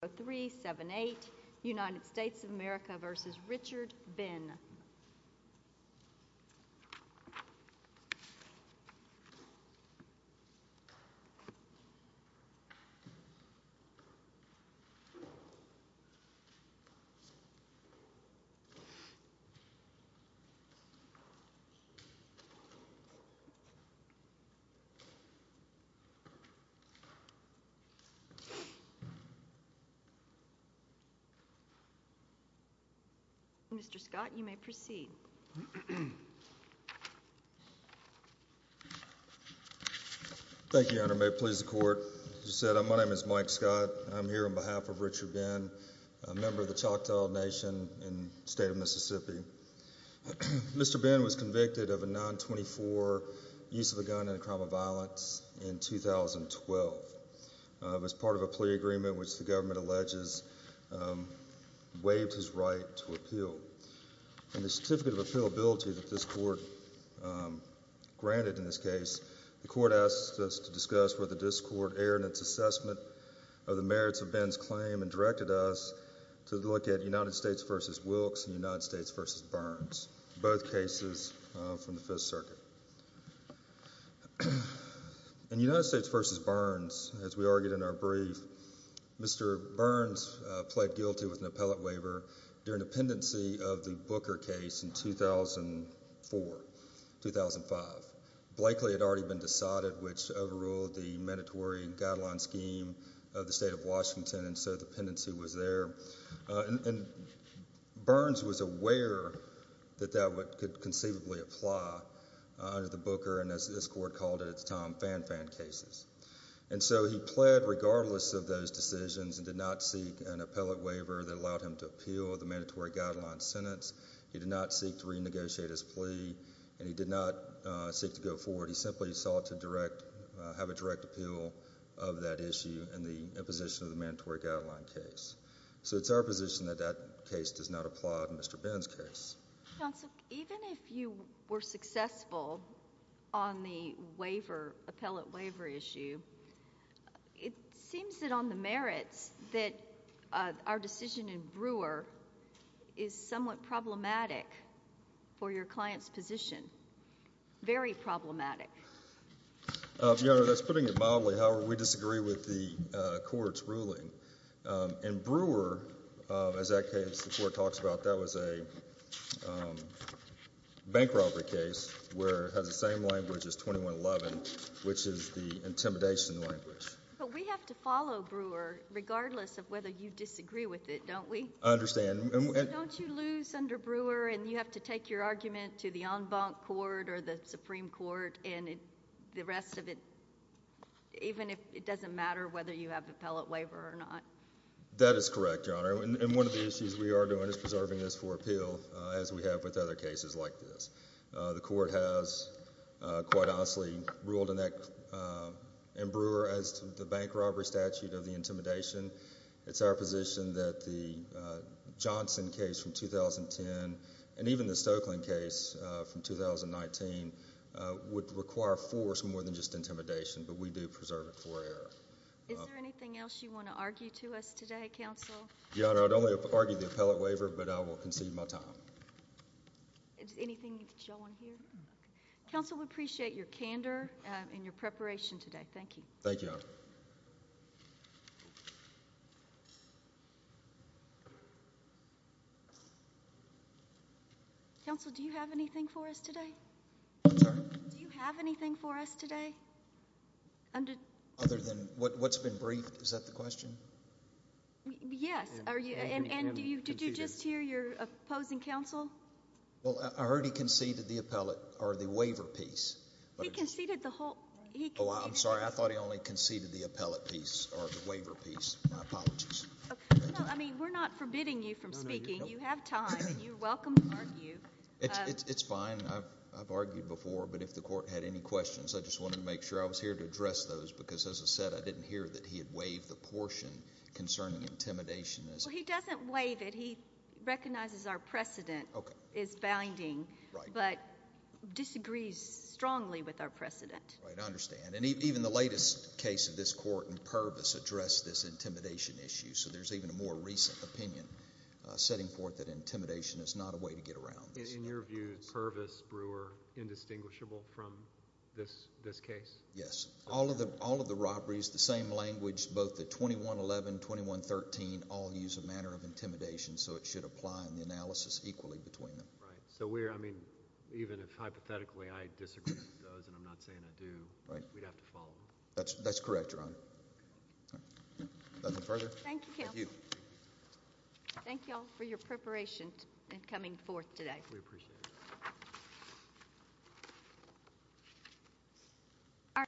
United States of America v. Richard Ben Mr. Scott, you may proceed. Thank you, Your Honor. May it please the Court. As you said, my name is Mike Scott. I'm here on behalf of Richard Ben, a member of the Choctaw Nation in the state of Mississippi. Mr. Ben was convicted of a 924 use of a gun in a crime of violence in 2012. It was part of a plea agreement which the government alleges waived his right to appeal. In the certificate of appealability that this Court granted in this case, the Court asked us to discuss whether this Court erred in its assessment of the merits of Ben's claim and directed us to look at United States v. Wilkes and United States v. Burns, both cases from the Fifth Circuit. In United States v. Burns, as we argued in our brief, Mr. Burns pled guilty with an appellate waiver during the pendency of the Booker case in 2004-2005. Blakely had already been decided, which overruled the mandatory guideline scheme of the state of Washington, and so the pendency was there. Burns was aware that that could conceivably apply under the Booker, and as this Court called it at the time, Fan-Fan cases. And so he pled regardless of those decisions and did not seek an appellate waiver that allowed him to appeal the mandatory guideline sentence. He did not seek to renegotiate his plea, and he did not seek to go forward. He simply sought to have a direct appeal of that issue and the imposition of the mandatory guideline case. So it's our position that that case does not apply to Mr. Burns' case. Counsel, even if you were successful on the waiver, appellate waiver issue, it seems that on the merits that our decision in Brewer is somewhat problematic for your client's position, very problematic. Your Honor, that's putting it mildly. However, we disagree with the Court's ruling. In Brewer, as that case the Court talks about, that was a bank robbery case where it has the same language as 2111, which is the intimidation language. But we have to follow Brewer regardless of whether you disagree with it, don't we? I understand. Don't you lose under Brewer and you have to take your argument to the en banc court or the Supreme Court and the rest of it, even if it doesn't matter whether you have appellate waiver or not? That is correct, Your Honor. And one of the issues we are doing is preserving this for appeal, as we have with other cases like this. The Court has, quite honestly, ruled in Brewer as the bank robbery statute of the intimidation. It's our position that the Johnson case from 2010 and even the Stokelyn case from 2019 would require force more than just intimidation, but we do preserve it for error. Is there anything else you want to argue to us today, Counsel? Your Honor, I'd only argue the appellate waiver, but I will concede my time. Is there anything that you all want to hear? Counsel, we appreciate your candor and your preparation today. Thank you. Thank you, Your Honor. Thank you. Counsel, do you have anything for us today? I'm sorry? Do you have anything for us today? Other than what's been briefed? Is that the question? Yes. And did you just hear your opposing counsel? Well, I heard he conceded the appellate or the waiver piece. He conceded the whole— Oh, I'm sorry. I thought he only conceded the appellate piece or the waiver piece. My apologies. No, I mean, we're not forbidding you from speaking. You have time, and you're welcome to argue. It's fine. I've argued before, but if the Court had any questions, I just wanted to make sure I was here to address those because, as I said, I didn't hear that he had waived the portion concerning intimidation. Well, he doesn't waive it. He recognizes our precedent is binding but disagrees strongly with our precedent. I understand. And even the latest case of this Court in Purvis addressed this intimidation issue, so there's even a more recent opinion setting forth that intimidation is not a way to get around this. In your view, Purvis, Brewer, indistinguishable from this case? Yes. All of the robberies, the same language, both the 2111, 2113, all use a manner of intimidation, so it should apply in the analysis equally between them. Right. So we're, I mean, even if hypothetically I disagree with those and I'm not saying I do, we'd have to follow them. That's correct, Your Honor. Nothing further? Thank you. Thank you. Thank you all for your preparation and coming forth today. We appreciate it.